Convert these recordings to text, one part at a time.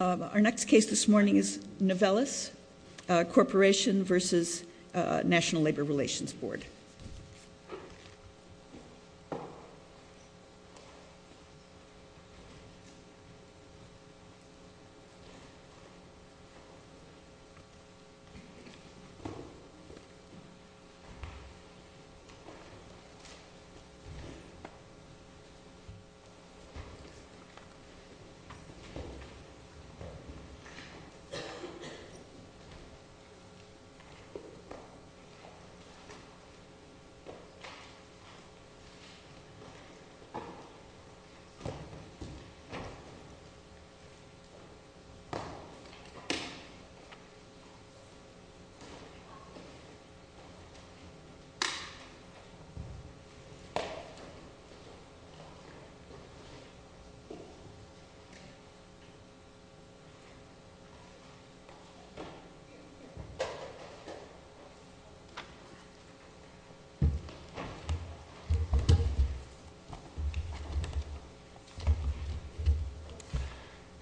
Our next case this morning is Novelis Corporation v. National Labor Relations Board.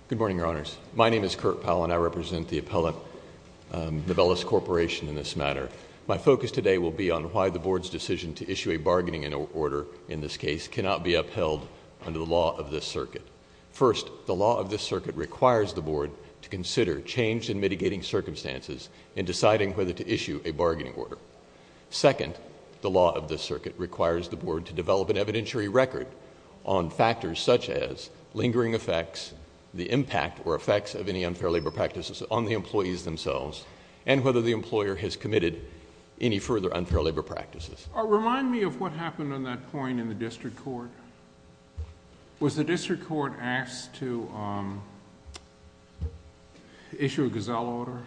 Good morning, Your Honors. My name is Kurt Powell and I represent the appellate Novelis Corporation in this matter. My focus today will be on why the board's decision to issue a bargaining order in this case cannot be upheld under the law of this circuit. First, the law of this circuit requires the board to consider change in mitigating circumstances in deciding whether to issue a bargaining order. Second, the law of this circuit requires the board to develop an evidentiary record on factors such as lingering effects, the impact or effects of any unfair labor practices on the employees themselves, and whether the employer has committed any further unfair labor practices. Remind me of what happened on that point in the district court. Was the district court asked to issue a gazelle order?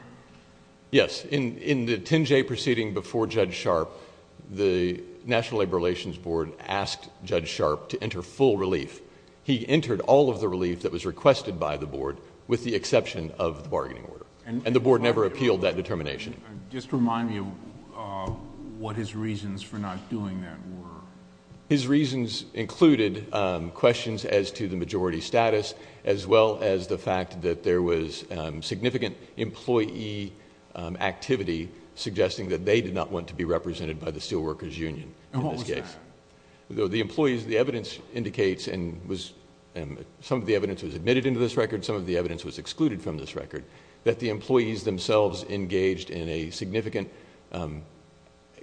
Yes. In the 10-J proceeding before Judge Sharpe, the National Labor Relations Board asked Judge Sharpe to enter full relief. He entered all of the relief that was requested by the board with the exception of the bargaining order, and the board never appealed that determination. Just remind me of what his reasons for not doing that were. His reasons included questions as to the majority status, as well as the fact that there was significant employee activity suggesting that they did not want to be represented by the Steelworkers Union in this case. What was that? The employees, the evidence indicates, and some of the evidence was admitted into this record, some of the evidence was excluded from this record, that the employees themselves engaged in a significant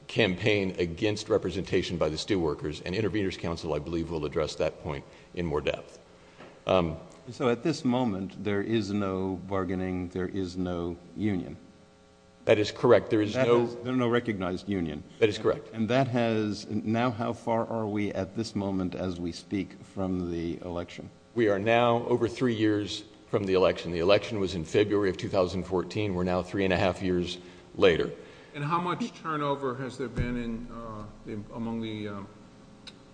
campaign against representation by the steelworkers, and Intervenors Council, I believe, will address that point in more depth. At this moment, there is no bargaining. There is no union. That is correct. There is no... There is no recognized union. That is correct. Now, how far are we at this moment as we speak from the election? We are now over three years from the election. The election was in February of 2014. We're now three and a half years later. How much turnover has there been among the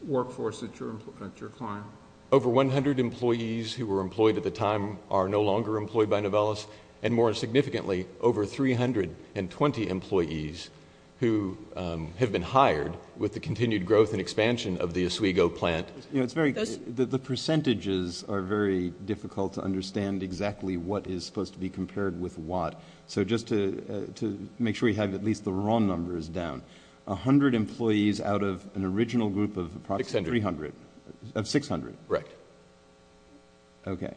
workforce that you're employing, your client? Over one hundred employees who were employed at the time are no longer employed by Novellis, and more significantly, over three hundred and twenty employees who have been hired with the continued growth and expansion of the Oswego plant. The percentages are very difficult to understand exactly what is supposed to be compared with what. So just to make sure you have at least the wrong numbers down, a hundred employees out of an original group of approximately... Six hundred. Three hundred. Of six hundred. Correct. Okay.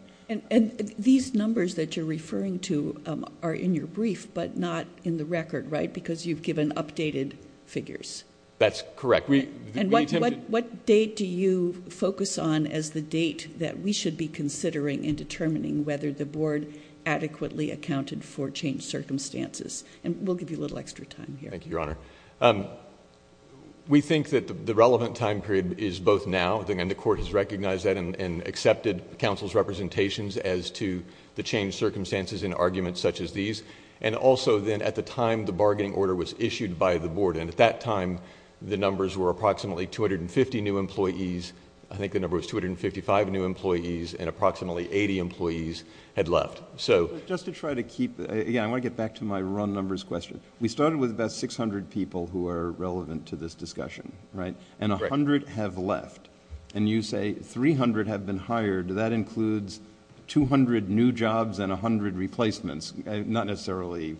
These numbers that you're referring to are in your brief, but not in the record, right? Because you've given updated figures. That's correct. And what date do you focus on as the date that we should be considering in determining whether the board adequately accounted for changed circumstances? And we'll give you a little extra time here. Thank you, Your Honor. We think that the relevant time period is both now, and the court has recognized that and accepted counsel's representations as to the changed circumstances in arguments such as these, and also then at the time the bargaining order was issued by the board. And at that time, the numbers were approximately 250 new employees. I think the number was 255 new employees, and approximately 80 employees had left. So... Just to try to keep... Again, I want to get back to my wrong numbers question. We started with about 600 people who are relevant to this discussion, right? And a hundred have left. And you say 300 have been hired. That includes 200 new jobs and a hundred replacements. Not necessarily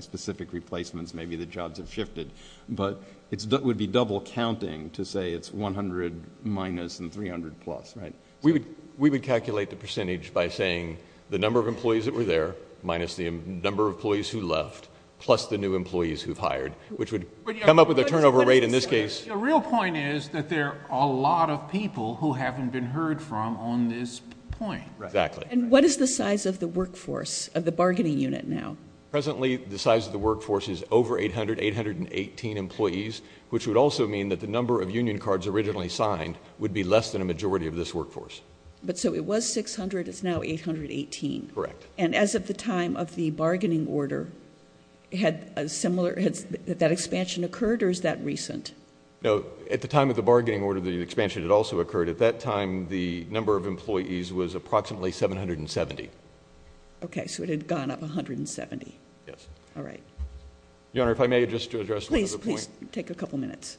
specific replacements. Maybe the jobs have shifted. But it would be double counting to say it's 100 minus and 300 plus, right? We would calculate the percentage by saying the number of employees that were there, minus the number of employees who left, plus the new employees who've hired, which would come up with a turnover rate in this case... The real point is that there are a lot of people who haven't been heard from on this point. Right. Exactly. And what is the size of the workforce of the bargaining unit now? Presently, the size of the workforce is over 800, 818 employees, which would also mean that the number of union cards originally signed would be less than a majority of this workforce. But so it was 600. It's now 818. Correct. And as of the time of the bargaining order, had a similar... has that expansion occurred or is that recent? At the time of the bargaining order, the expansion had also occurred. At that time, the number of employees was approximately 770. Okay. So it had gone up 170. Yes. All right. Your Honor, if I may just address one other point. Please, please. Take a couple minutes.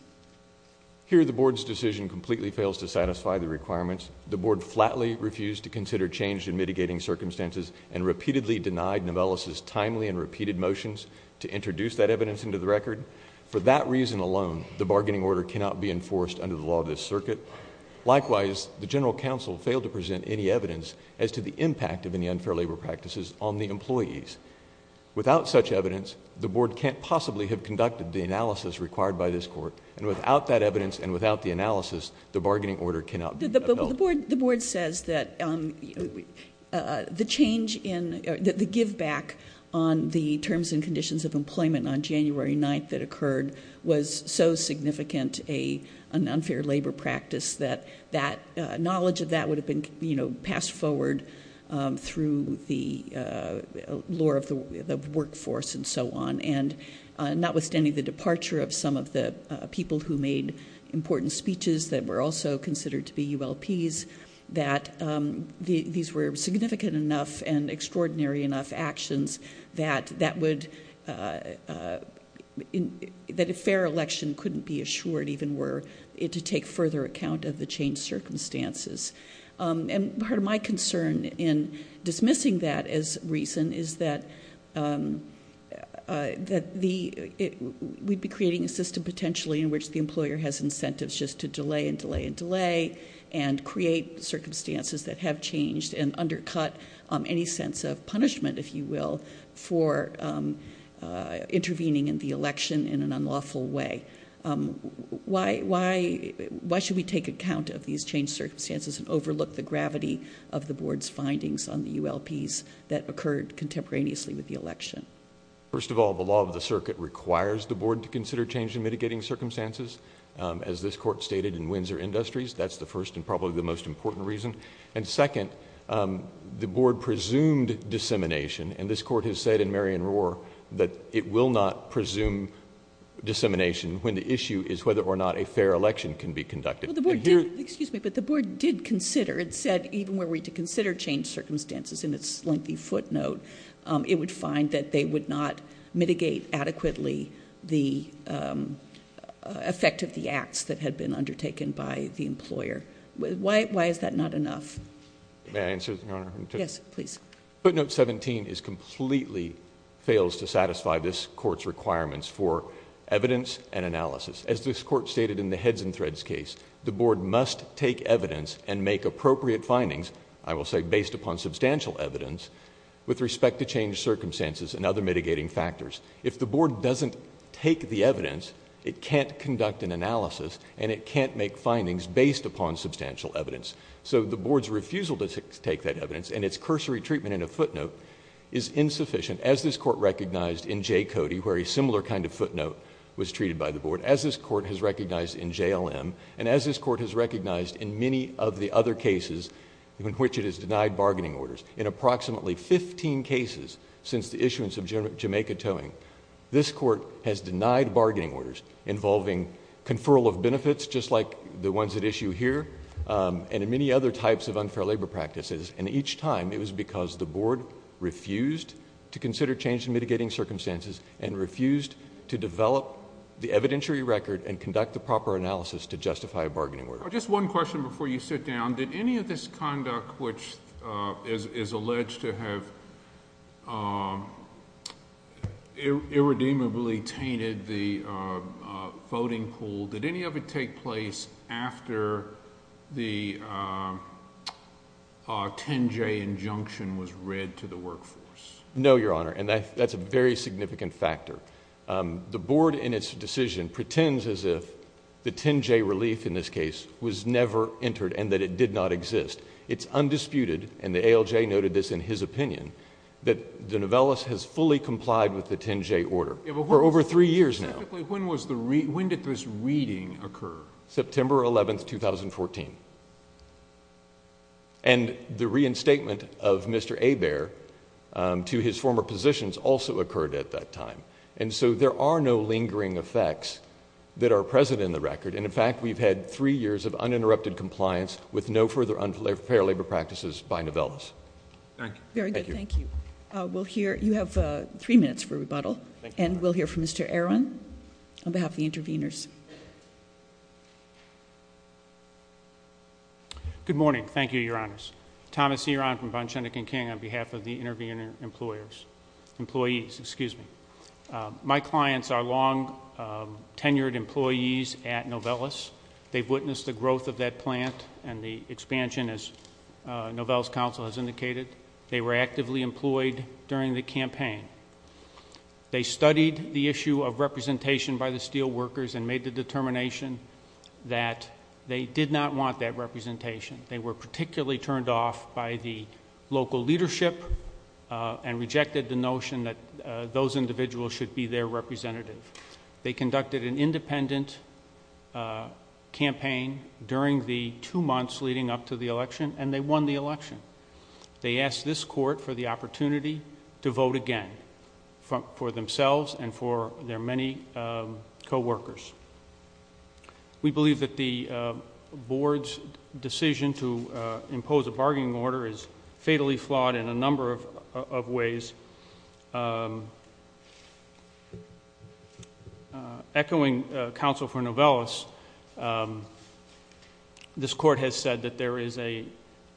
Here, the board's decision completely fails to satisfy the requirements. The board flatly refused to consider change in mitigating circumstances and repeatedly denied Novellis' timely and repeated motions to introduce that evidence into the record. For that reason alone, the bargaining order cannot be enforced under the law of this circuit. Likewise, the general counsel failed to present any evidence as to the impact of any unfair labor practices on the employees. Without such evidence, the board can't possibly have conducted the analysis required by this court and without that evidence and without the analysis, the bargaining order cannot be upheld. But the board says that the change in... the give back on the terms and conditions of that knowledge of that would have been, you know, passed forward through the law of the workforce and so on. And notwithstanding the departure of some of the people who made important speeches that were also considered to be ULPs, that these were significant enough and extraordinary enough actions that that would... that a fair election couldn't be assured even were it to take further account of the changed circumstances. And part of my concern in dismissing that as reason is that the... we'd be creating a system potentially in which the employer has incentives just to delay and delay and delay and create circumstances that have changed and undercut any sense of punishment, if you will, for intervening in the election in an unlawful way. Why... why... why should we take account of these changed circumstances and overlook the gravity of the board's findings on the ULPs that occurred contemporaneously with the election? First of all, the law of the circuit requires the board to consider change in mitigating circumstances. As this court stated in Windsor Industries, that's the first and probably the most important reason. And second, the board presumed dissemination and this court has said in Marion Roar that it will not presume dissemination when the issue is whether or not a fair election can be conducted. And here... Well, the board did... excuse me, but the board did consider. It said even were we to consider changed circumstances in its lengthy footnote, it would find that they would not mitigate adequately the effect of the acts that had been undertaken by the employer. Why... why is that not enough? May I answer, Your Honor? Yes, please. Footnote 17 is completely... fails to satisfy this court's requirements for evidence and analysis. As this court stated in the Heads and Threads case, the board must take evidence and make appropriate findings, I will say based upon substantial evidence, with respect to changed circumstances and other mitigating factors. If the board doesn't take the evidence, it can't conduct an analysis and it can't make findings based upon substantial evidence. The board's refusal to take that evidence and its cursory treatment in a footnote is insufficient as this court recognized in J. Cody where a similar kind of footnote was treated by the board, as this court has recognized in JLM, and as this court has recognized in many of the other cases in which it has denied bargaining orders. In approximately fifteen cases since the issuance of Jamaica Towing, this court has denied bargaining orders involving conferral of benefits, just like the ones at issue here, and in many other types of unfair labor practices. Each time, it was because the board refused to consider changed mitigating circumstances and refused to develop the evidentiary record and conduct the proper analysis to justify a bargaining order. Just one question before you sit down. Did any of this conduct which is alleged to have irredeemably tainted the voting pool, did any of it take place after the 10-J injunction was read to the workforce? No, Your Honor, and that's a very significant factor. The board in its decision pretends as if the 10-J relief in this case was never entered and that it did not exist. It's undisputed, and the ALJ noted this in his opinion, that the novellus has fully complied with the 10-J order for over three years now. Specifically, when did this reading occur? September 11, 2014. And the reinstatement of Mr. Hebert to his former positions also occurred at that time. And so there are no lingering effects that are present in the record, and in fact, we've had three years of uninterrupted compliance with no further unfair labor practices by novellus. Thank you. Thank you. Very good. Thank you. We'll hear... you have three minutes for rebuttal, and we'll hear from Mr. Aron on behalf of the intervenors. Good morning. Thank you, Your Honors. Thomas Aron from Von Schoenecke and King on behalf of the intervenor employees. My clients are long-tenured employees at novellus. They've witnessed the growth of that plant and the expansion, as novellus counsel has indicated. They were actively employed during the campaign. They studied the issue of representation by the steelworkers and made the determination that they did not want that representation. They were particularly turned off by the local leadership and rejected the notion that those individuals should be their representative. They conducted an independent campaign during the two months leading up to the election, and they won the election. They asked this court for the opportunity to vote again for themselves and for their many coworkers. We believe that the board's decision to impose a bargaining order is fatally flawed in a number of ways. Echoing counsel for novellus, this court has said that there is an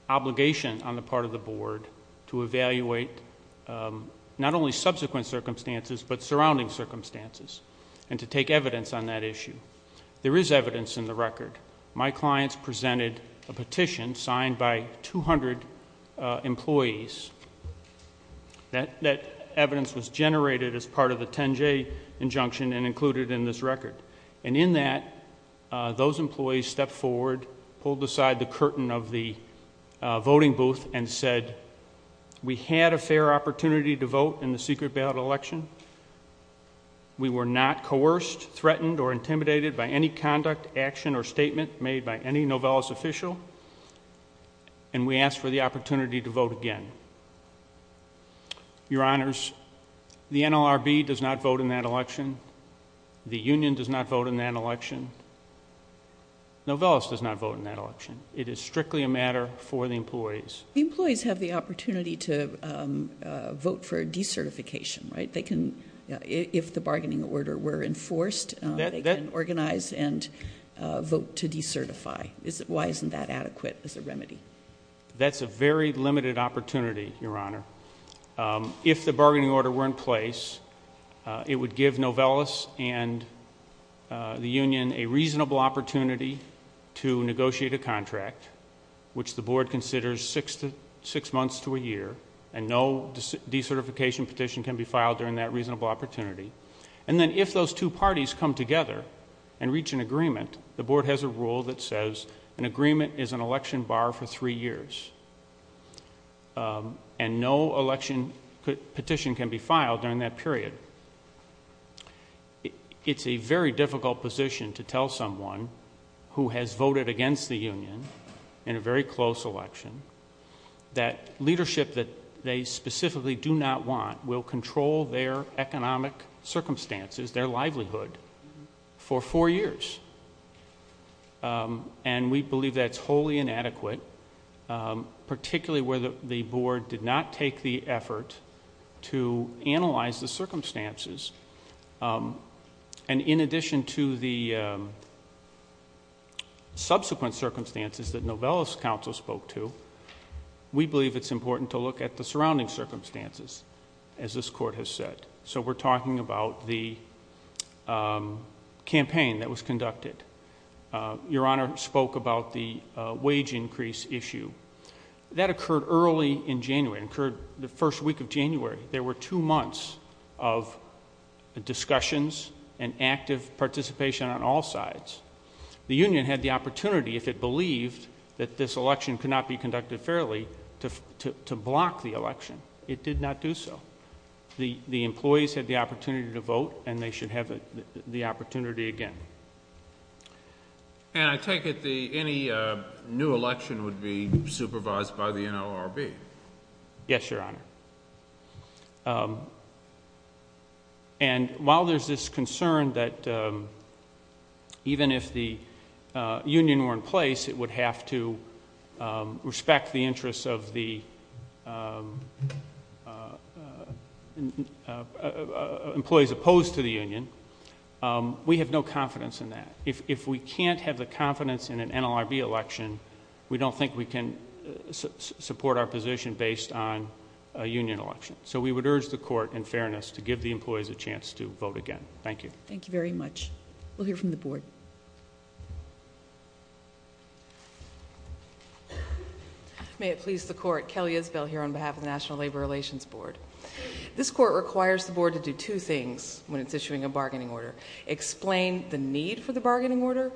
obligation on the part of the board to evaluate not only subsequent circumstances but surrounding circumstances and to take evidence on that issue. There is evidence in the record. My clients presented a petition signed by 200 employees. That evidence was generated as part of the 10-J injunction and included in this record. In that, those employees stepped forward, pulled aside the curtain of the voting booth and said, we had a fair opportunity to vote in the secret ballot election. We were not coerced, threatened or intimidated by any conduct, action or statement made by any novellus official, and we ask for the opportunity to vote again. Your honors, the NLRB does not vote in that election. The union does not vote in that election. Novellus does not vote in that election. It is strictly a matter for the employees. The employees have the opportunity to vote for a decertification, right? If the bargaining order were enforced, they can organize and vote to decertify. Why isn't that adequate as a remedy? That's a very limited opportunity, your honor. If the bargaining order were in place, it would give Novellus and the union a reasonable opportunity to negotiate a contract, which the board considers six months to a year, and no decertification petition can be filed during that reasonable opportunity. And then if those two parties come together and reach an agreement, the board has a rule that says an agreement is an election bar for three years. And no election petition can be filed during that period. It's a very difficult position to tell someone who has voted against the union in a very A union that they specifically do not want will control their economic circumstances, their livelihood, for four years. And we believe that's wholly inadequate, particularly where the board did not take the effort to analyze the circumstances. And in addition to the subsequent circumstances that Novellus counsel spoke to, we believe it's important to look at the surrounding circumstances, as this court has said. So we're talking about the campaign that was conducted. Your honor spoke about the wage increase issue. That occurred early in January, occurred the first week of January. There were two months of discussions and active participation on all sides. The union had the opportunity, if it believed that this election could not be conducted fairly, to block the election. It did not do so. The employees had the opportunity to vote, and they should have the opportunity again. And I take it any new election would be supervised by the NLRB? Yes, your honor. And while there's this concern that even if the union were in place, it would have to respect the interests of the employees opposed to the union, we have no confidence in that. If we can't have the confidence in an NLRB election, we don't think we can support our position based on a union election. So we would urge the court, in fairness, to give the employees a chance to vote again. Thank you. Thank you very much. We'll hear from the board. May it please the court. Kelly Isbell here on behalf of the National Labor Relations Board. This court requires the board to do two things when it's issuing a bargaining order, explain the need for the bargaining order,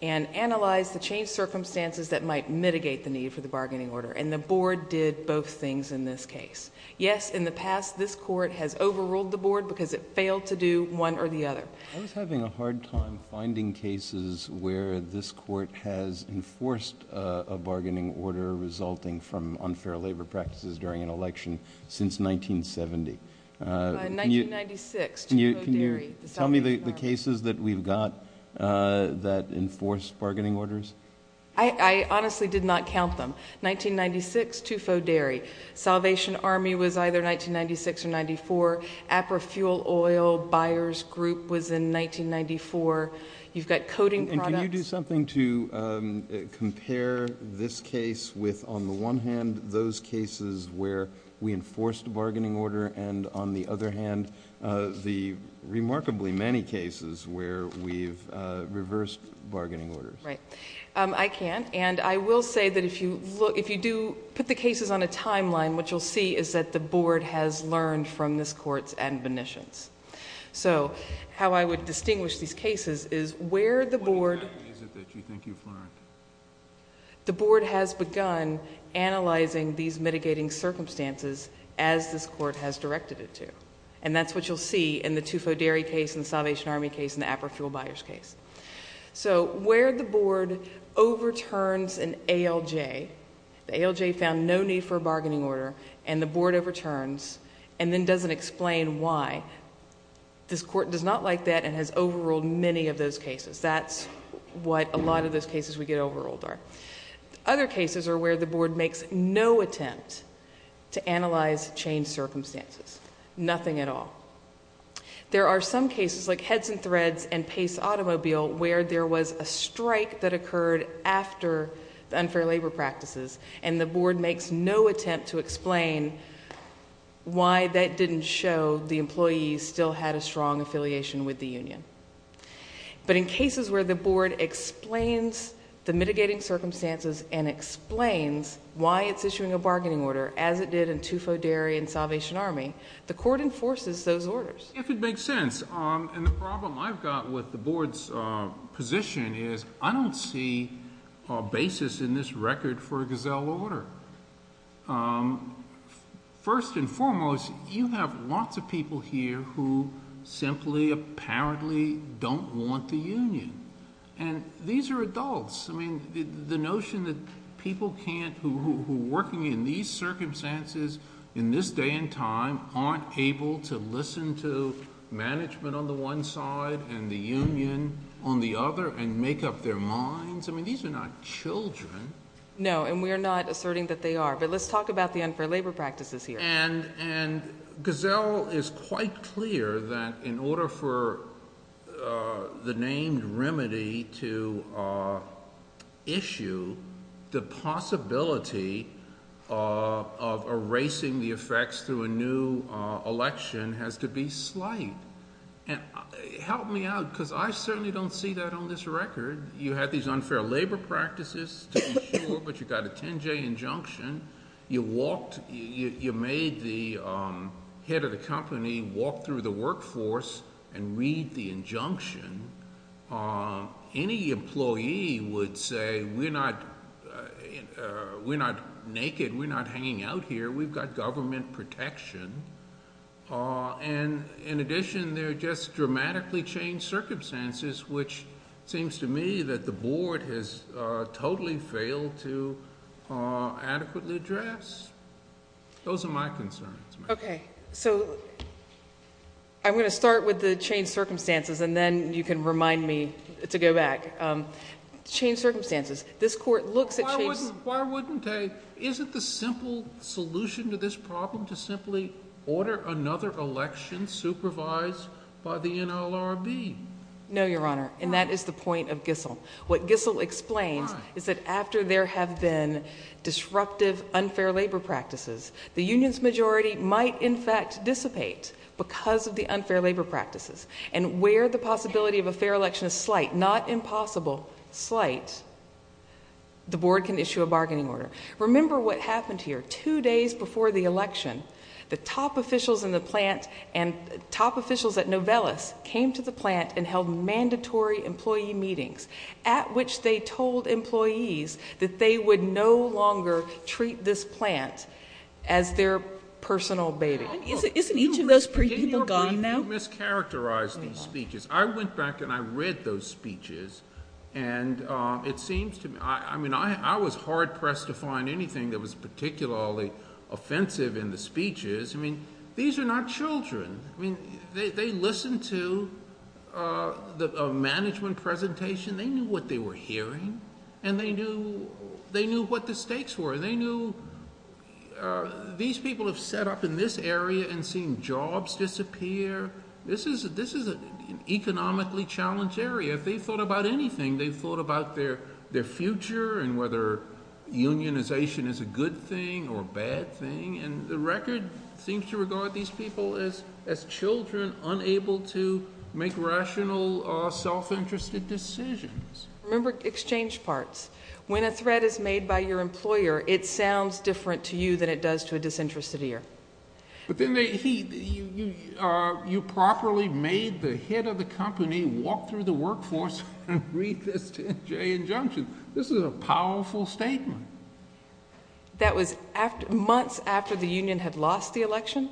and analyze the changed circumstances that might mitigate the need for the bargaining order. And the board did both things in this case. Yes, in the past, this court has overruled the board because it failed to do one or the other. I was having a hard time finding cases where this court has enforced a bargaining order resulting from unfair labor practices during an election since 1970. 1996, Chico Dairy, the South Asian bar. Can you tell me the cases that we've got that enforce bargaining orders? I honestly did not count them. Well, 1996, Tufo Dairy, Salvation Army was either 1996 or 1994, Aperfuel Oil Buyers Group was in 1994. You've got coating products. And can you do something to compare this case with, on the one hand, those cases where we enforced a bargaining order, and on the other hand, the remarkably many cases where we've reversed bargaining orders? Right. I can. And I will say that if you do put the cases on a timeline, what you'll see is that the board has learned from this court's admonitions. So how I would distinguish these cases is where the board... What exactly is it that you think you've learned? The board has begun analyzing these mitigating circumstances as this court has directed it to. And that's what you'll see in the Tufo Dairy case and the Salvation Army case and the Aperfuel Buyers case. So where the board overturns an ALJ, the ALJ found no need for a bargaining order, and the board overturns and then doesn't explain why, this court does not like that and has overruled many of those cases. That's what a lot of those cases we get overruled are. Other cases are where the board makes no attempt to analyze changed circumstances, nothing at all. There are some cases like Heads and Threads and Pace Automobile where there was a strike that occurred after the unfair labor practices, and the board makes no attempt to explain why that didn't show the employees still had a strong affiliation with the union. But in cases where the board explains the mitigating circumstances and explains why it's issuing a bargaining order, as it did in Tufo Dairy and Salvation Army, the court enforces those orders. If it makes sense. And the problem I've got with the board's position is I don't see a basis in this record for a gazelle order. First and foremost, you have lots of people here who simply apparently don't want the union. And these are adults. I mean, the notion that people can't, who are working in these circumstances in this day and time, aren't able to listen to management on the one side and the union on the other and make up their minds, I mean, these are not children. No, and we're not asserting that they are. But let's talk about the unfair labor practices here. And gazelle is quite clear that in order for the named remedy to issue, the possibility of erasing the effects through a new election has to be slight. Help me out, because I certainly don't see that on this record. You had these unfair labor practices, to be sure, but you got a 10-J injunction. You made the head of the company walk through the workforce and read the injunction. Any employee would say, we're not naked, we're not hanging out here, we've got government protection. And in addition, they're just dramatically changed circumstances, which seems to me that the board has totally failed to adequately address. Those are my concerns. OK, so I'm going to start with the changed circumstances, and then you can remind me to go back. Changed circumstances. This court looks at changed circumstances. Why wouldn't they? Isn't the simple solution to this problem to simply order another election supervised by the NLRB? No, Your Honor, and that is the point of gizzle. What gizzle explains is that after there have been disruptive unfair labor practices, the union's majority might, in fact, dissipate because of the unfair labor practices. And where the possibility of a fair election is slight, not impossible, slight, the board can issue a bargaining order. Remember what happened here. Two days before the election, the top officials in the plant and top officials at Novellus came to the plant and held mandatory employee meetings at which they told employees that they would no longer treat this plant as their personal baby. Isn't each of those people gone now? Didn't Your Honor, you mischaracterized these speeches. I went back and I read those speeches, and it seems to me, I mean, I was hard-pressed to find anything that was particularly offensive in the speeches. I mean, these are not children. I mean, they listened to a management presentation. They knew what they were hearing, and they knew what the stakes were. They knew these people have set up in this area and seen jobs disappear. This is an economically challenged area. If they've thought about anything, they've thought about their future and whether unionization is a good thing or a bad thing, and the record seems to regard these people as children unable to make rational, self-interested decisions. Remember exchange parts. When a threat is made by your employer, it sounds different to you than it does to a disinterested ear. But then you properly made the head of the company walk through the workforce and read this 10-J injunction. This is a powerful statement. That was months after the union had lost the election.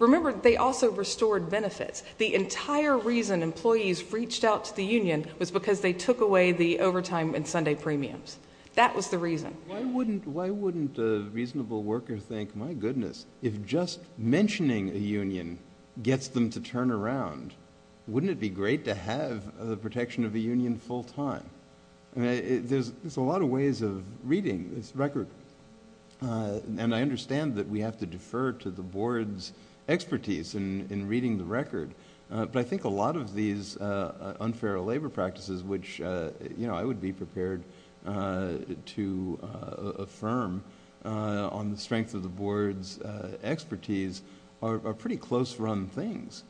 Remember, they also restored benefits. The entire reason employees reached out to the union was because they took away the overtime and Sunday premiums. That was the reason. Why wouldn't a reasonable worker think, my goodness, if just mentioning a union gets them to turn around, wouldn't it be great to have the protection of a union full-time? There's a lot of ways of reading this record, and I understand that we have to defer to the board's expertise in reading the record. But I think a lot of these unfair labor practices, which I would be prepared to affirm on the strength of the board's expertise, are pretty close-run things.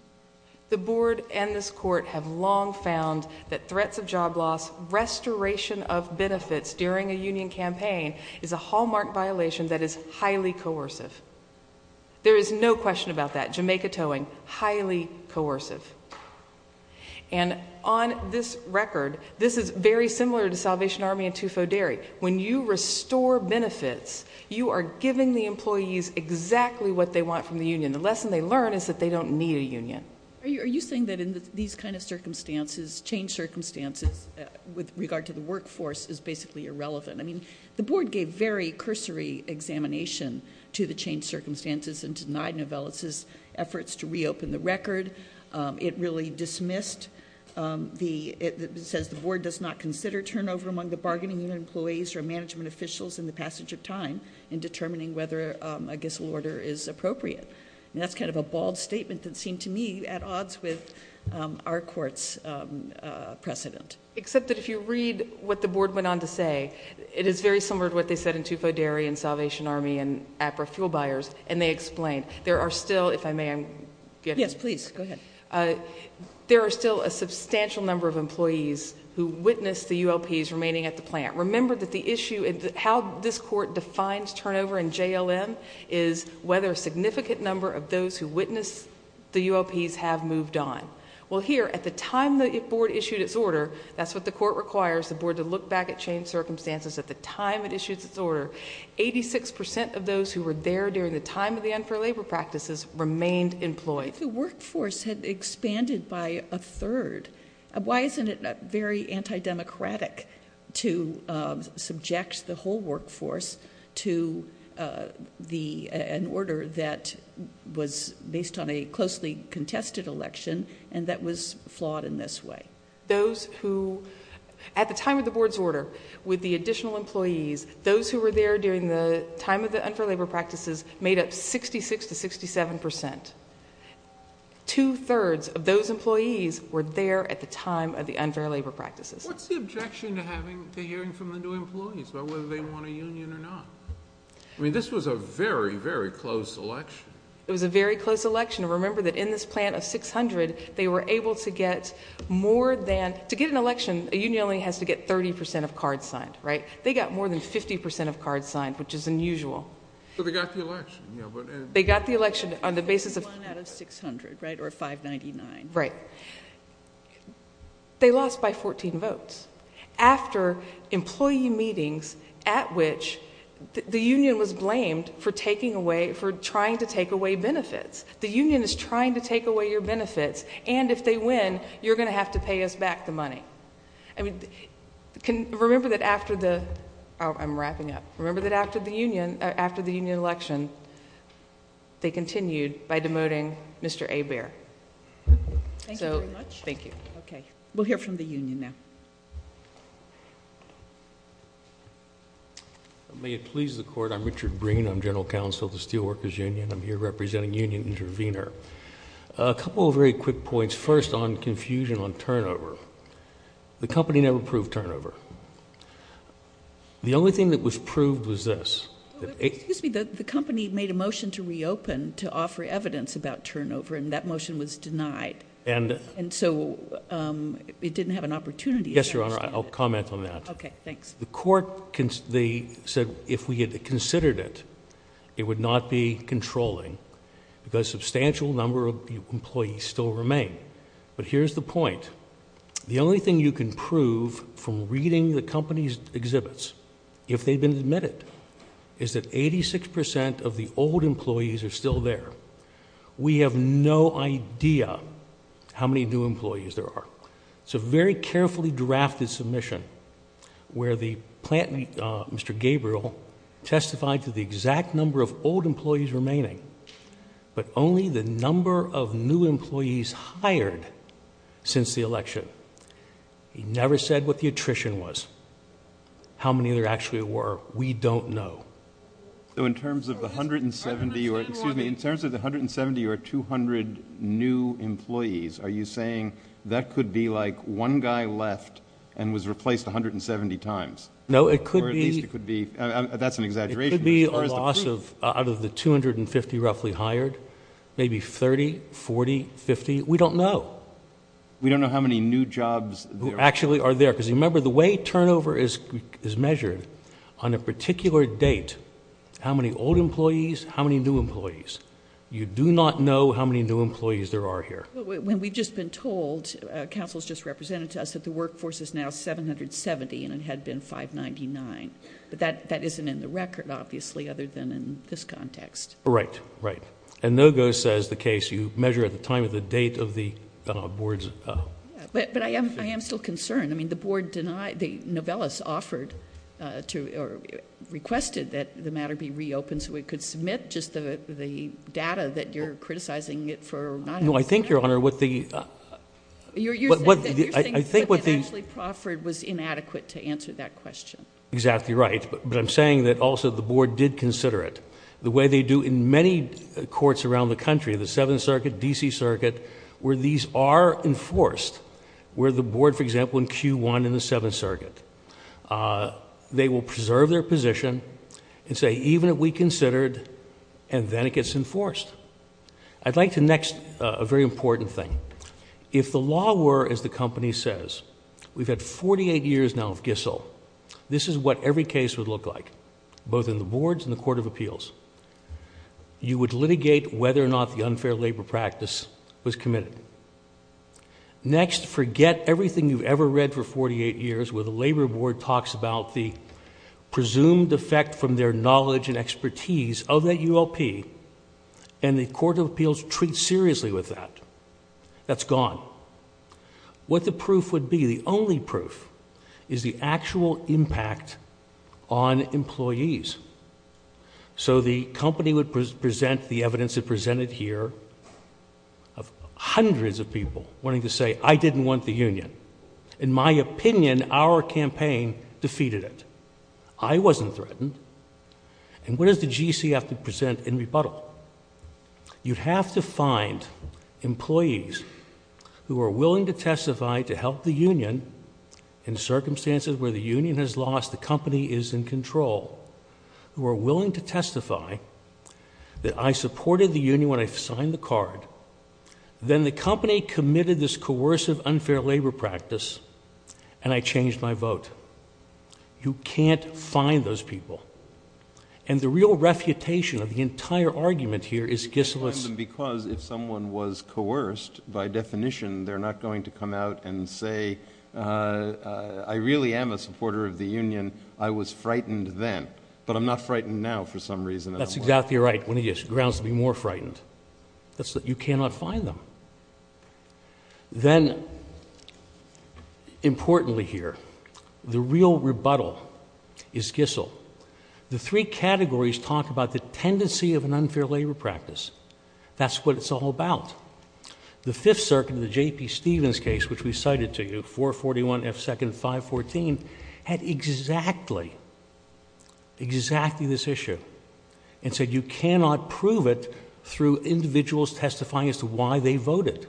The board and this court have long found that threats of job loss, restoration of benefits during a union campaign, is a hallmark violation that is highly coercive. There is no question about that. Jamaica towing, highly coercive. And on this record, this is very similar to Salvation Army and Tufo Dairy. When you restore benefits, you are giving the employees exactly what they want from the union. The lesson they learn is that they don't need a union. Are you saying that in these kind of circumstances, change circumstances with regard to the workforce is basically irrelevant? I mean, the board gave very cursory examination to the change circumstances and denied Novellis's efforts to reopen the record. It really dismissed the—it says the board does not consider turnover among the bargaining unit employees or management officials in the passage of time in determining whether a gissel order is appropriate. And that's kind of a bald statement that seemed to me at odds with our court's precedent. Except that if you read what the board went on to say, it is very similar to what they said in Tufo Dairy and Salvation Army and APRA fuel buyers, and they explained. There are still, if I may— Yes, please. Go ahead. There are still a substantial number of employees who witnessed the ULPs remaining at the plant. Remember that the issue—how this court defines turnover in JLM is whether a significant number of those who witnessed the ULPs have moved on. Well, here, at the time the board issued its order—that's what the court requires, the board to look back at change circumstances at the time it issued its order—86 percent of those who were there during the time of the unfair labor practices remained employed. If the workforce had expanded by a third, why isn't it very anti-democratic to subject the whole workforce to an order that was based on a closely contested election and that was flawed in this way? Those who—at the time of the board's order, with the additional employees, those who were there during the time of the unfair labor practices made up 66 to 67 percent. Two-thirds of those employees were there at the time of the unfair labor practices. What's the objection to having—to hearing from the new employees about whether they want a union or not? I mean, this was a very, very close election. It was a very close election. Remember that in this plant of 600, they were able to get more than—to get an election, a union only has to get 30 percent of cards signed, right? They got more than 50 percent of cards signed, which is unusual. But they got the election. They got the election on the basis of— 51 out of 600, right, or 599. Right. They lost by 14 votes. After employee meetings at which the union was blamed for taking away—for trying to take away benefits. The union is trying to take away your benefits, and if they win, you're going to have to pay us back the money. I mean, remember that after the—I'm wrapping up. Remember that after the union election, they continued by demoting Mr. Hebert. Thank you very much. Thank you. Okay. We'll hear from the union now. May it please the Court, I'm Richard Breen. I'm general counsel of the Steelworkers Union. I'm here representing Union Intervenor. A couple of very quick points. First, on confusion on turnover. The company never proved turnover. The only thing that was proved was this. Excuse me. The company made a motion to reopen to offer evidence about turnover, and that motion was denied. And so it didn't have an opportunity. Yes, Your Honor, I'll comment on that. Okay, thanks. The Court said if we had considered it, it would not be controlling because a substantial number of employees still remain. But here's the point. The only thing you can prove from reading the company's exhibits, if they've been admitted, is that 86% of the old employees are still there. We have no idea how many new employees there are. It's a very carefully drafted submission where the plant, Mr. Gabriel, testified to the exact number of old employees remaining, but only the number of new employees hired since the election. He never said what the attrition was, how many there actually were. We don't know. So in terms of the 170 or 200 new employees, are you saying that could be like one guy left and was replaced 170 times? No, it could be. Or at least it could be. That's an exaggeration. It could be a loss out of the 250 roughly hired, maybe 30, 40, 50. We don't know. We don't know how many new jobs there are. Actually are there. Because remember, the way turnover is measured on a particular date, how many old employees, how many new employees, you do not know how many new employees there are here. When we've just been told, counsel's just represented to us, that the workforce is now 770 and it had been 599. But that isn't in the record, obviously, other than in this context. Right, right. And NOGO says the case you measure at the time of the date of the board's. But I am still concerned. I mean, the board denied, the novellus offered to, or requested that the matter be reopened so it could submit just the data that you're criticizing it for not. No, I think, Your Honor, what the. You're saying that Ashley Crawford was inadequate to answer that question. Exactly right. But I'm saying that also the board did consider it. The way they do in many courts around the country, the Seventh Circuit, D.C. Circuit, where these are enforced, where the board, for example, in Q1 in the Seventh Circuit, they will preserve their position and say, even if we considered, and then it gets enforced. I'd like to next a very important thing. If the law were, as the company says, we've had 48 years now of Gissel, this is what every case would look like, both in the boards and the court of appeals. You would litigate whether or not the unfair labor practice was committed. Next, forget everything you've ever read for 48 years where the labor board talks about the presumed effect from their knowledge and expertise of that ULP, and the court of appeals treats seriously with that. That's gone. What the proof would be, the only proof, is the actual impact on employees. The company would present the evidence it presented here of hundreds of people wanting to say, I didn't want the union. In my opinion, our campaign defeated it. I wasn't threatened. What does the GC have to present in rebuttal? You'd have to find employees who are willing to testify to help the union in this case, who are willing to testify that I supported the union when I signed the card. Then the company committed this coercive, unfair labor practice, and I changed my vote. You can't find those people. And the real refutation of the entire argument here is Gissel's. Because if someone was coerced, by definition, they're not going to come out and say, I really am a supporter of the union, I was frightened then. But I'm not frightened now for some reason. That's exactly right. When he is, grounds to be more frightened. You cannot find them. Then, importantly here, the real rebuttal is Gissel. The three categories talk about the tendency of an unfair labor practice. That's what it's all about. The Fifth Circuit, the J.P. Stevens case, which we cited to you, 441 F. 2nd, 514, had exactly, exactly this issue. And said you cannot prove it through individuals testifying as to why they voted.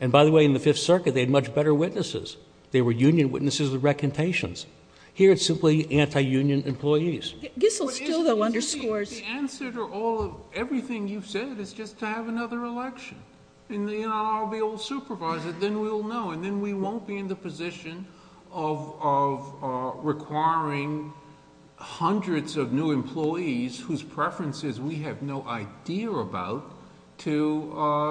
And by the way, in the Fifth Circuit, they had much better witnesses. They were union witnesses with recantations. Here, it's simply anti-union employees. Gissel still, though, underscores... The answer to everything you've said is just to have another election. And I'll be old supervisor. Then we'll know. Then we won't be in the position of requiring hundreds of new employees whose preferences we have no idea about to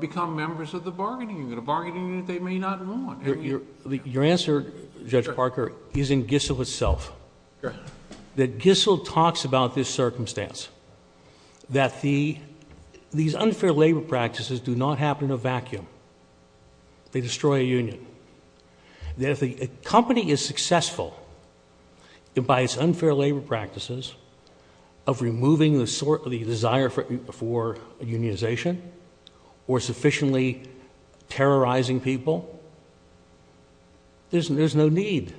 become members of the bargaining unit, a bargaining unit they may not want. Your answer, Judge Parker, is in Gissel itself. That Gissel talks about this circumstance. They destroy a union. If a company is successful by its unfair labor practices of removing the desire for unionization or sufficiently terrorizing people, there's no need.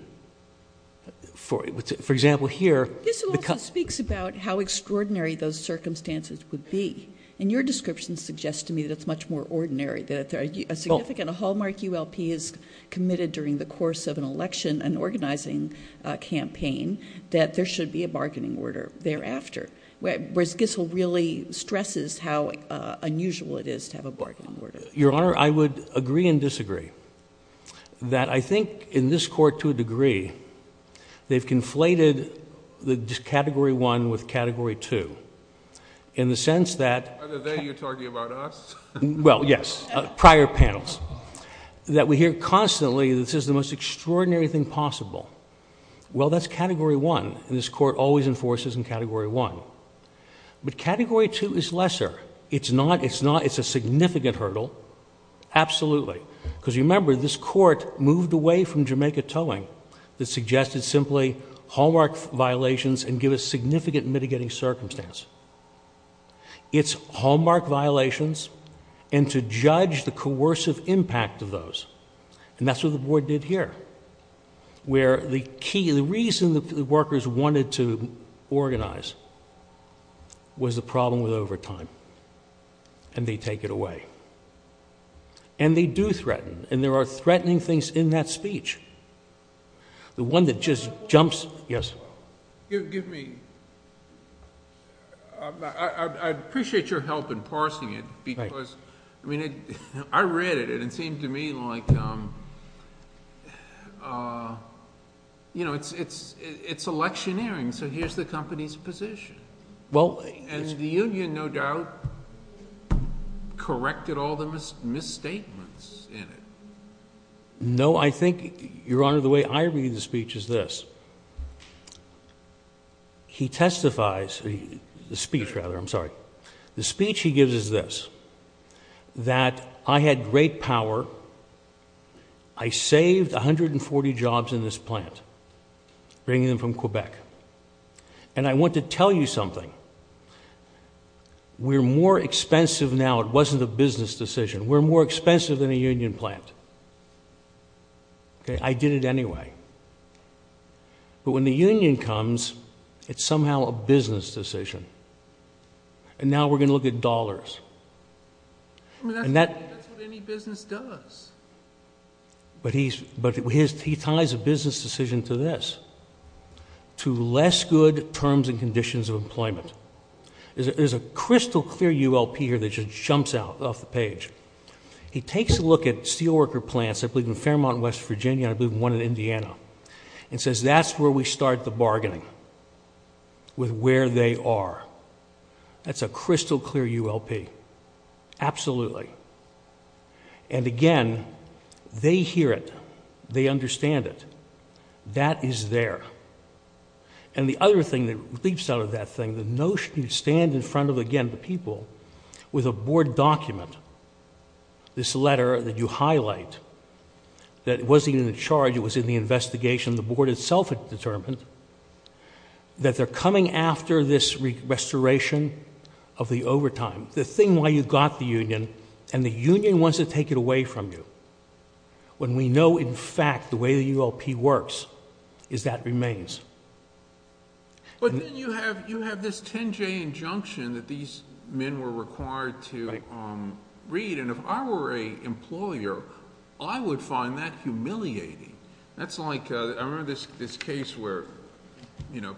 For example, here... Gissel also speaks about how extraordinary those circumstances would be. And your description suggests to me that it's much more ordinary. A significant, a hallmark ULP is committed during the course of an election, an organizing campaign, that there should be a bargaining order thereafter. Whereas Gissel really stresses how unusual it is to have a bargaining order. Your Honor, I would agree and disagree that I think in this court to a degree, they've conflated the Category 1 with Category 2 in the sense that... Are they you're talking about us? Well, yes, prior panels. That we hear constantly this is the most extraordinary thing possible. Well, that's Category 1. This court always enforces in Category 1. But Category 2 is lesser. It's a significant hurdle. Absolutely. Because remember, this court moved away from Jamaica Towing. It suggested simply hallmark violations and give a significant mitigating circumstance. It's hallmark violations and to judge the coercive impact of those. And that's what the Board did here. Where the key, the reason that the workers wanted to organize was the problem with overtime. And they take it away. And they do threaten. And there are threatening things in that speech. The one that just jumps... Yes. Give me... I appreciate your help in parsing it because... Right. I read it and it seemed to me like it's electioneering. So here's the company's position. Well... And the union, no doubt, corrected all the misstatements in it. No, I think, Your Honor, the way I read the speech is this. He testifies... the speech, rather. I'm sorry. The speech he gives is this, that I had great power. I saved 140 jobs in this plant, bringing them from Quebec. And I want to tell you something. We're more expensive now. It wasn't a business decision. We're more expensive than a union plant. I did it anyway. But when the union comes, it's somehow a business decision. And now we're going to look at dollars. That's what any business does. But he ties a business decision to this, to less good terms and conditions of employment. There's a crystal clear ULP here that just jumps off the page. He takes a look at steelworker plants, I believe in Fairmont, West Virginia, and I believe in one in Indiana, and says that's where we start the bargaining with where they are. That's a crystal clear ULP. Absolutely. And, again, they hear it. They understand it. That is there. And the other thing that leaps out of that thing, the notion you stand in front of, again, the people, with a board document, this letter that you highlight, that wasn't in the charge, it was in the investigation, the board itself had determined, that they're coming after this restoration of the overtime. The thing why you got the union, and the union wants to take it away from you, when we know, in fact, the way the ULP works, is that it remains. But then you have this 10-J injunction that these men were required to read, and if I were an employer, I would find that humiliating. That's like, I remember this case where, you know,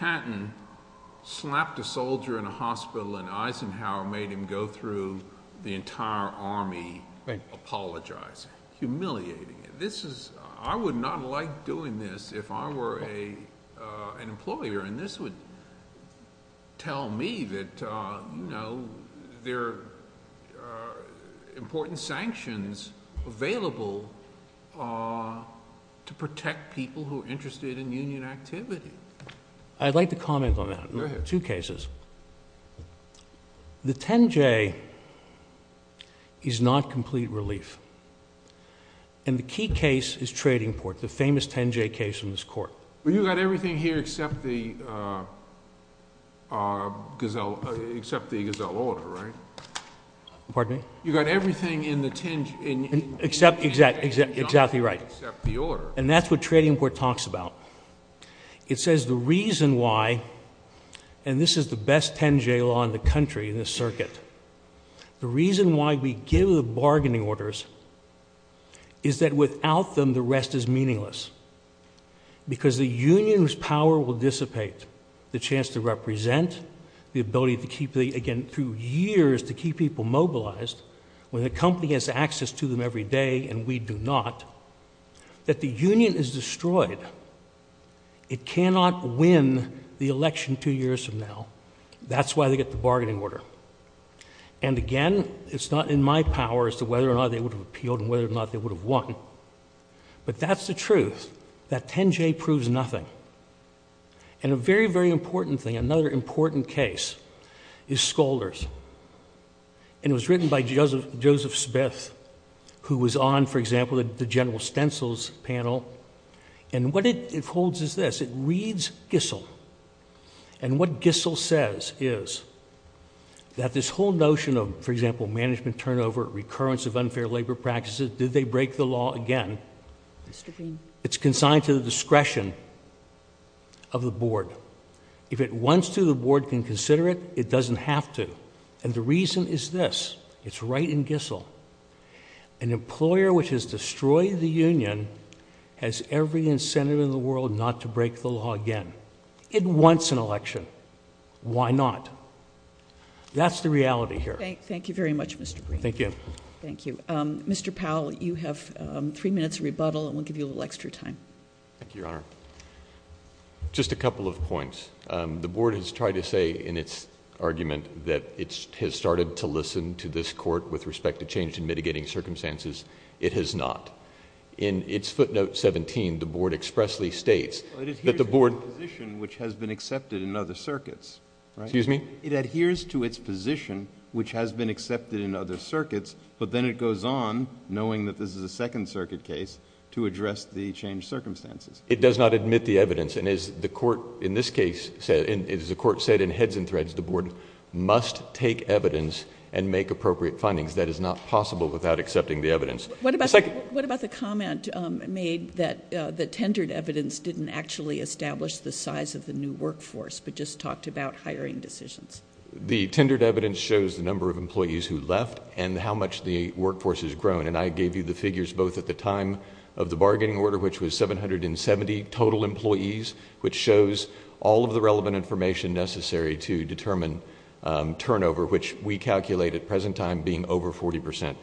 Eisenhower made him go through the entire army apologizing. Humiliating. I would not like doing this if I were an employer, and this would tell me that, you know, there are important sanctions available to protect people who are interested in union activity. I'd like to comment on that. Go ahead. Two cases. The 10-J is not complete relief, and the key case is Tradingport, the famous 10-J case in this court. But you got everything here except the gazelle order, right? Pardon me? You got everything in the 10-J injunction. Exactly right. Except the order. And that's what Tradingport talks about. It says the reason why, and this is the best 10-J law in the country in this circuit, the reason why we give the bargaining orders is that without them, the rest is meaningless, because the union's power will dissipate, the chance to represent, the ability to keep the, again, through years to keep people mobilized, when the company has access to them every day and we do not, that the union is destroyed. It cannot win the election two years from now. That's why they get the bargaining order. And, again, it's not in my power as to whether or not they would have appealed and whether or not they would have won. But that's the truth, that 10-J proves nothing. And a very, very important thing, another important case, is Skolder's. And it was written by Joseph Smith, who was on, for example, the General Stencil's panel. And what it holds is this. It reads Gissel. And what Gissel says is that this whole notion of, for example, management turnover, recurrence of unfair labour practices, did they break the law again? It's consigned to the discretion of the board. If it wants to, the board can consider it. It doesn't have to. And the reason is this. It's right in Gissel. An employer which has destroyed the union has every incentive in the world not to break the law again. It wants an election. Why not? That's the reality here. Thank you very much, Mr. Green. Thank you. Thank you. Mr. Powell, you have three minutes rebuttal, and we'll give you a little extra time. Thank you, Your Honour. Just a couple of points. The board has tried to say in its argument that it has started to listen to this court with respect to change in mitigating circumstances. It has not. In its footnote 17, the board expressly states that the board ---- It adheres to the position which has been accepted in other circuits. Excuse me? It adheres to its position which has been accepted in other circuits, but then it goes on, knowing that this is a Second Circuit case, to address the changed circumstances. It does not admit the evidence. And as the court in this case said, and as the court said in heads and threads, the board must take evidence and make appropriate findings. That is not possible without accepting the evidence. What about the comment made that the tendered evidence didn't actually establish the size of the new workforce but just talked about hiring decisions? The tendered evidence shows the number of employees who left and how much the workforce has grown. And I gave you the figures both at the time of the bargaining order, which was 770 total employees, which shows all of the relevant information necessary to determine turnover, which we calculate at present time being over 40 percent.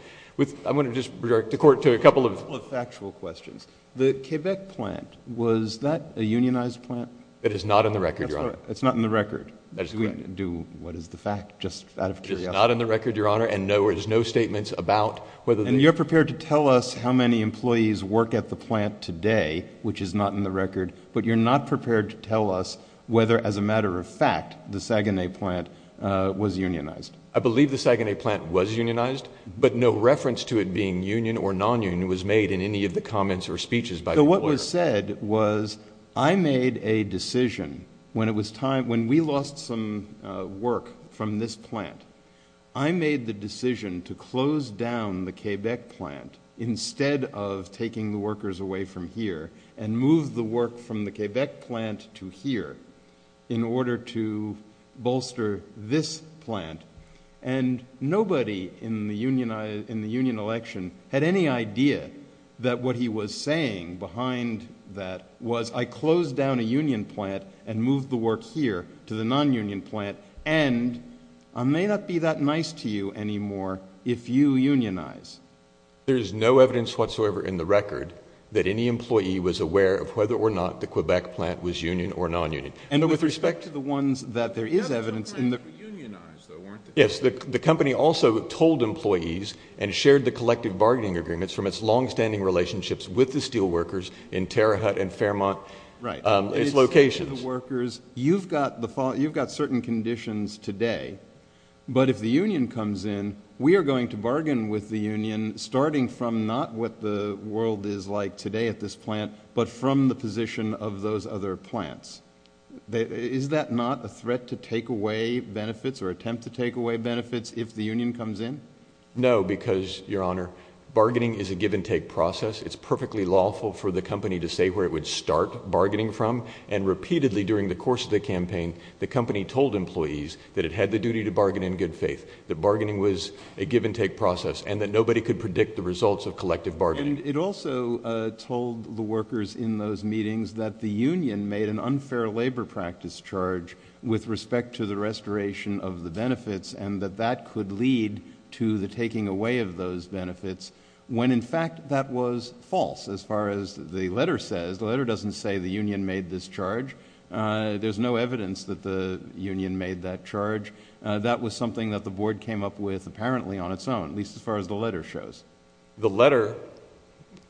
I'm going to just revert the court to a couple of factual questions. The Quebec plant, was that a unionized plant? That is not in the record, Your Honor. That's not in the record. Do we do what is the fact, just out of curiosity? It is not in the record, Your Honor, and there's no statements about whether the ---- And you're prepared to tell us how many employees work at the plant today, which is not in the record, but you're not prepared to tell us whether, as a matter of fact, the Saguenay plant was unionized. I believe the Saguenay plant was unionized, but no reference to it being union or nonunion was made in any of the comments or speeches by the employer. So what was said was I made a decision when it was time, when we lost some work from this plant, I made the decision to close down the Quebec plant instead of taking the workers away from here and move the work from the Quebec plant to here in order to bolster this plant. And nobody in the union election had any idea that what he was saying behind that was, I closed down a union plant and moved the work here to the nonunion plant, and I may not be that nice to you anymore if you unionize. There is no evidence whatsoever in the record that any employee was aware of whether or not the Quebec plant was union or nonunion. And with respect to the ones that there is evidence in the... Unionized, though, weren't they? Yes. The company also told employees and shared the collective bargaining agreements from its longstanding relationships with the steel workers in Terre Haute and Fairmont, its locations. You've got certain conditions today, but if the union comes in, we are going to bargain with the union starting from not what the world is like today at this plant, but from the position of those other plants. Is that not a threat to take away benefits or attempt to take away benefits if the union comes in? No, because, Your Honor, bargaining is a give-and-take process. It's perfectly lawful for the company to say where it would start bargaining from, and repeatedly during the course of the campaign, the company told employees that it had the duty to bargain in good faith, that bargaining was a give-and-take process and that nobody could predict the results of collective bargaining. And it also told the workers in those meetings that the union made an unfair labor practice charge with respect to the restoration of the benefits and that that could lead to the taking away of those benefits, when, in fact, that was false, as far as the letter says. The letter doesn't say the union made this charge. There's no evidence that the union made that charge. That was something that the board came up with, as far as the letter shows. The letter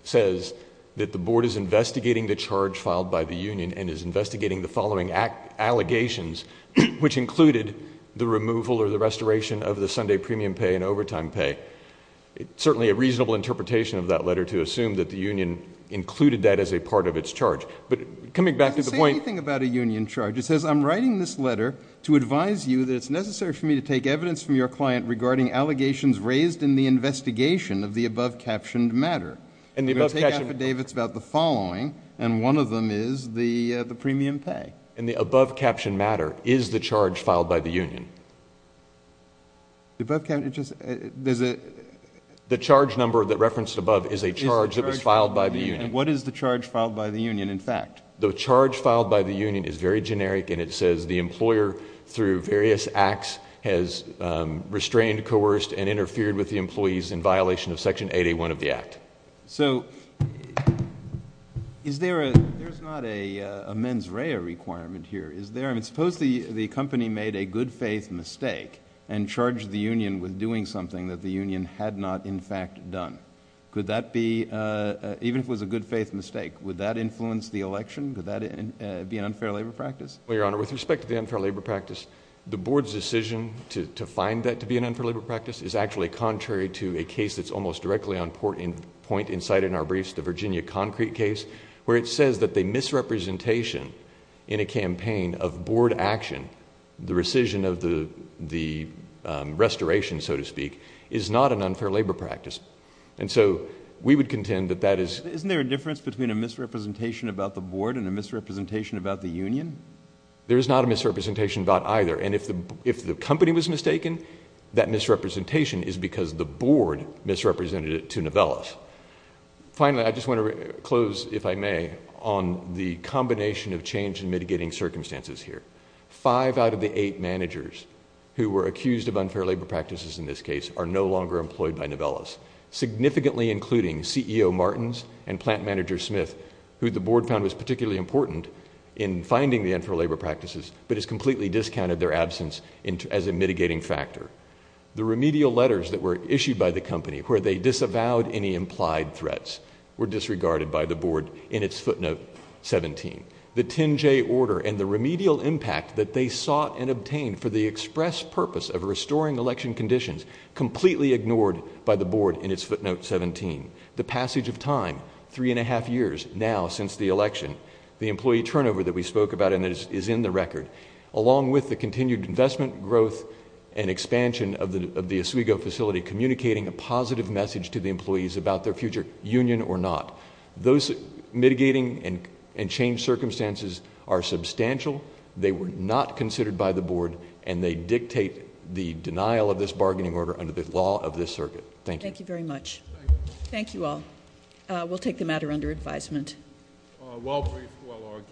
says that the board is investigating the charge filed by the union and is investigating the following allegations, which included the removal or the restoration of the Sunday premium pay and overtime pay. It's certainly a reasonable interpretation of that letter to assume that the union included that as a part of its charge. But coming back to the point... It doesn't say anything about a union charge. It says, I'm writing this letter to advise you that it's necessary for me to take evidence from your client regarding allegations raised in the investigation of the above-captioned matter. We'll take affidavits about the following, and one of them is the premium pay. In the above-captioned matter, is the charge filed by the union? The above-captioned... It just... There's a... The charge number that referenced above is a charge that was filed by the union. What is the charge filed by the union, in fact? The charge filed by the union is very generic, and it says the employer, through various acts, has restrained, coerced and interfered with the employees in violation of Section 8A1 of the Act. So, is there a... There's not a mens rea requirement here. I mean, suppose the company made a good-faith mistake and charged the union with doing something that the union had not, in fact, done. Could that be... Even if it was a good-faith mistake, would that influence the election? Could that be an unfair labour practice? Well, Your Honour, with respect to the unfair labour practice, the board's decision to find that to be an unfair labour practice is actually contrary to a case that's almost directly on point in sight in our briefs, the Virginia Concrete case, where it says that the misrepresentation in a campaign of board action, the rescission of the restoration, so to speak, is not an unfair labour practice. And so we would contend that that is... Isn't there a difference between a misrepresentation about the board and a misrepresentation about the union? There is not a misrepresentation about either. And if the company was mistaken, that misrepresentation is because the board misrepresented it to Novellis. Finally, I just want to close, if I may, on the combination of change and mitigating circumstances here. Five out of the eight managers who were accused of unfair labour practices in this case are no longer employed by Novellis, significantly including CEO Martins and plant manager Smith, who the board found was particularly important in finding the unfair labour practices but has completely discounted their absence as a mitigating factor. The remedial letters that were issued by the company where they disavowed any implied threats were disregarded by the board in its footnote 17. The 10-J order and the remedial impact that they sought and obtained for the express purpose of restoring election conditions completely ignored by the board in its footnote 17. The passage of time, 3½ years now since the election, the employee turnover that we spoke about is in the record, along with the continued investment, growth and expansion of the Oswego facility communicating a positive message to the employees about their future union or not. Those mitigating and changed circumstances are substantial, they were not considered by the board, and they dictate the denial of this bargaining order under the law of this circuit. Thank you. Thank you very much. Thank you all. We'll take the matter under advisement. Well briefed, well argued.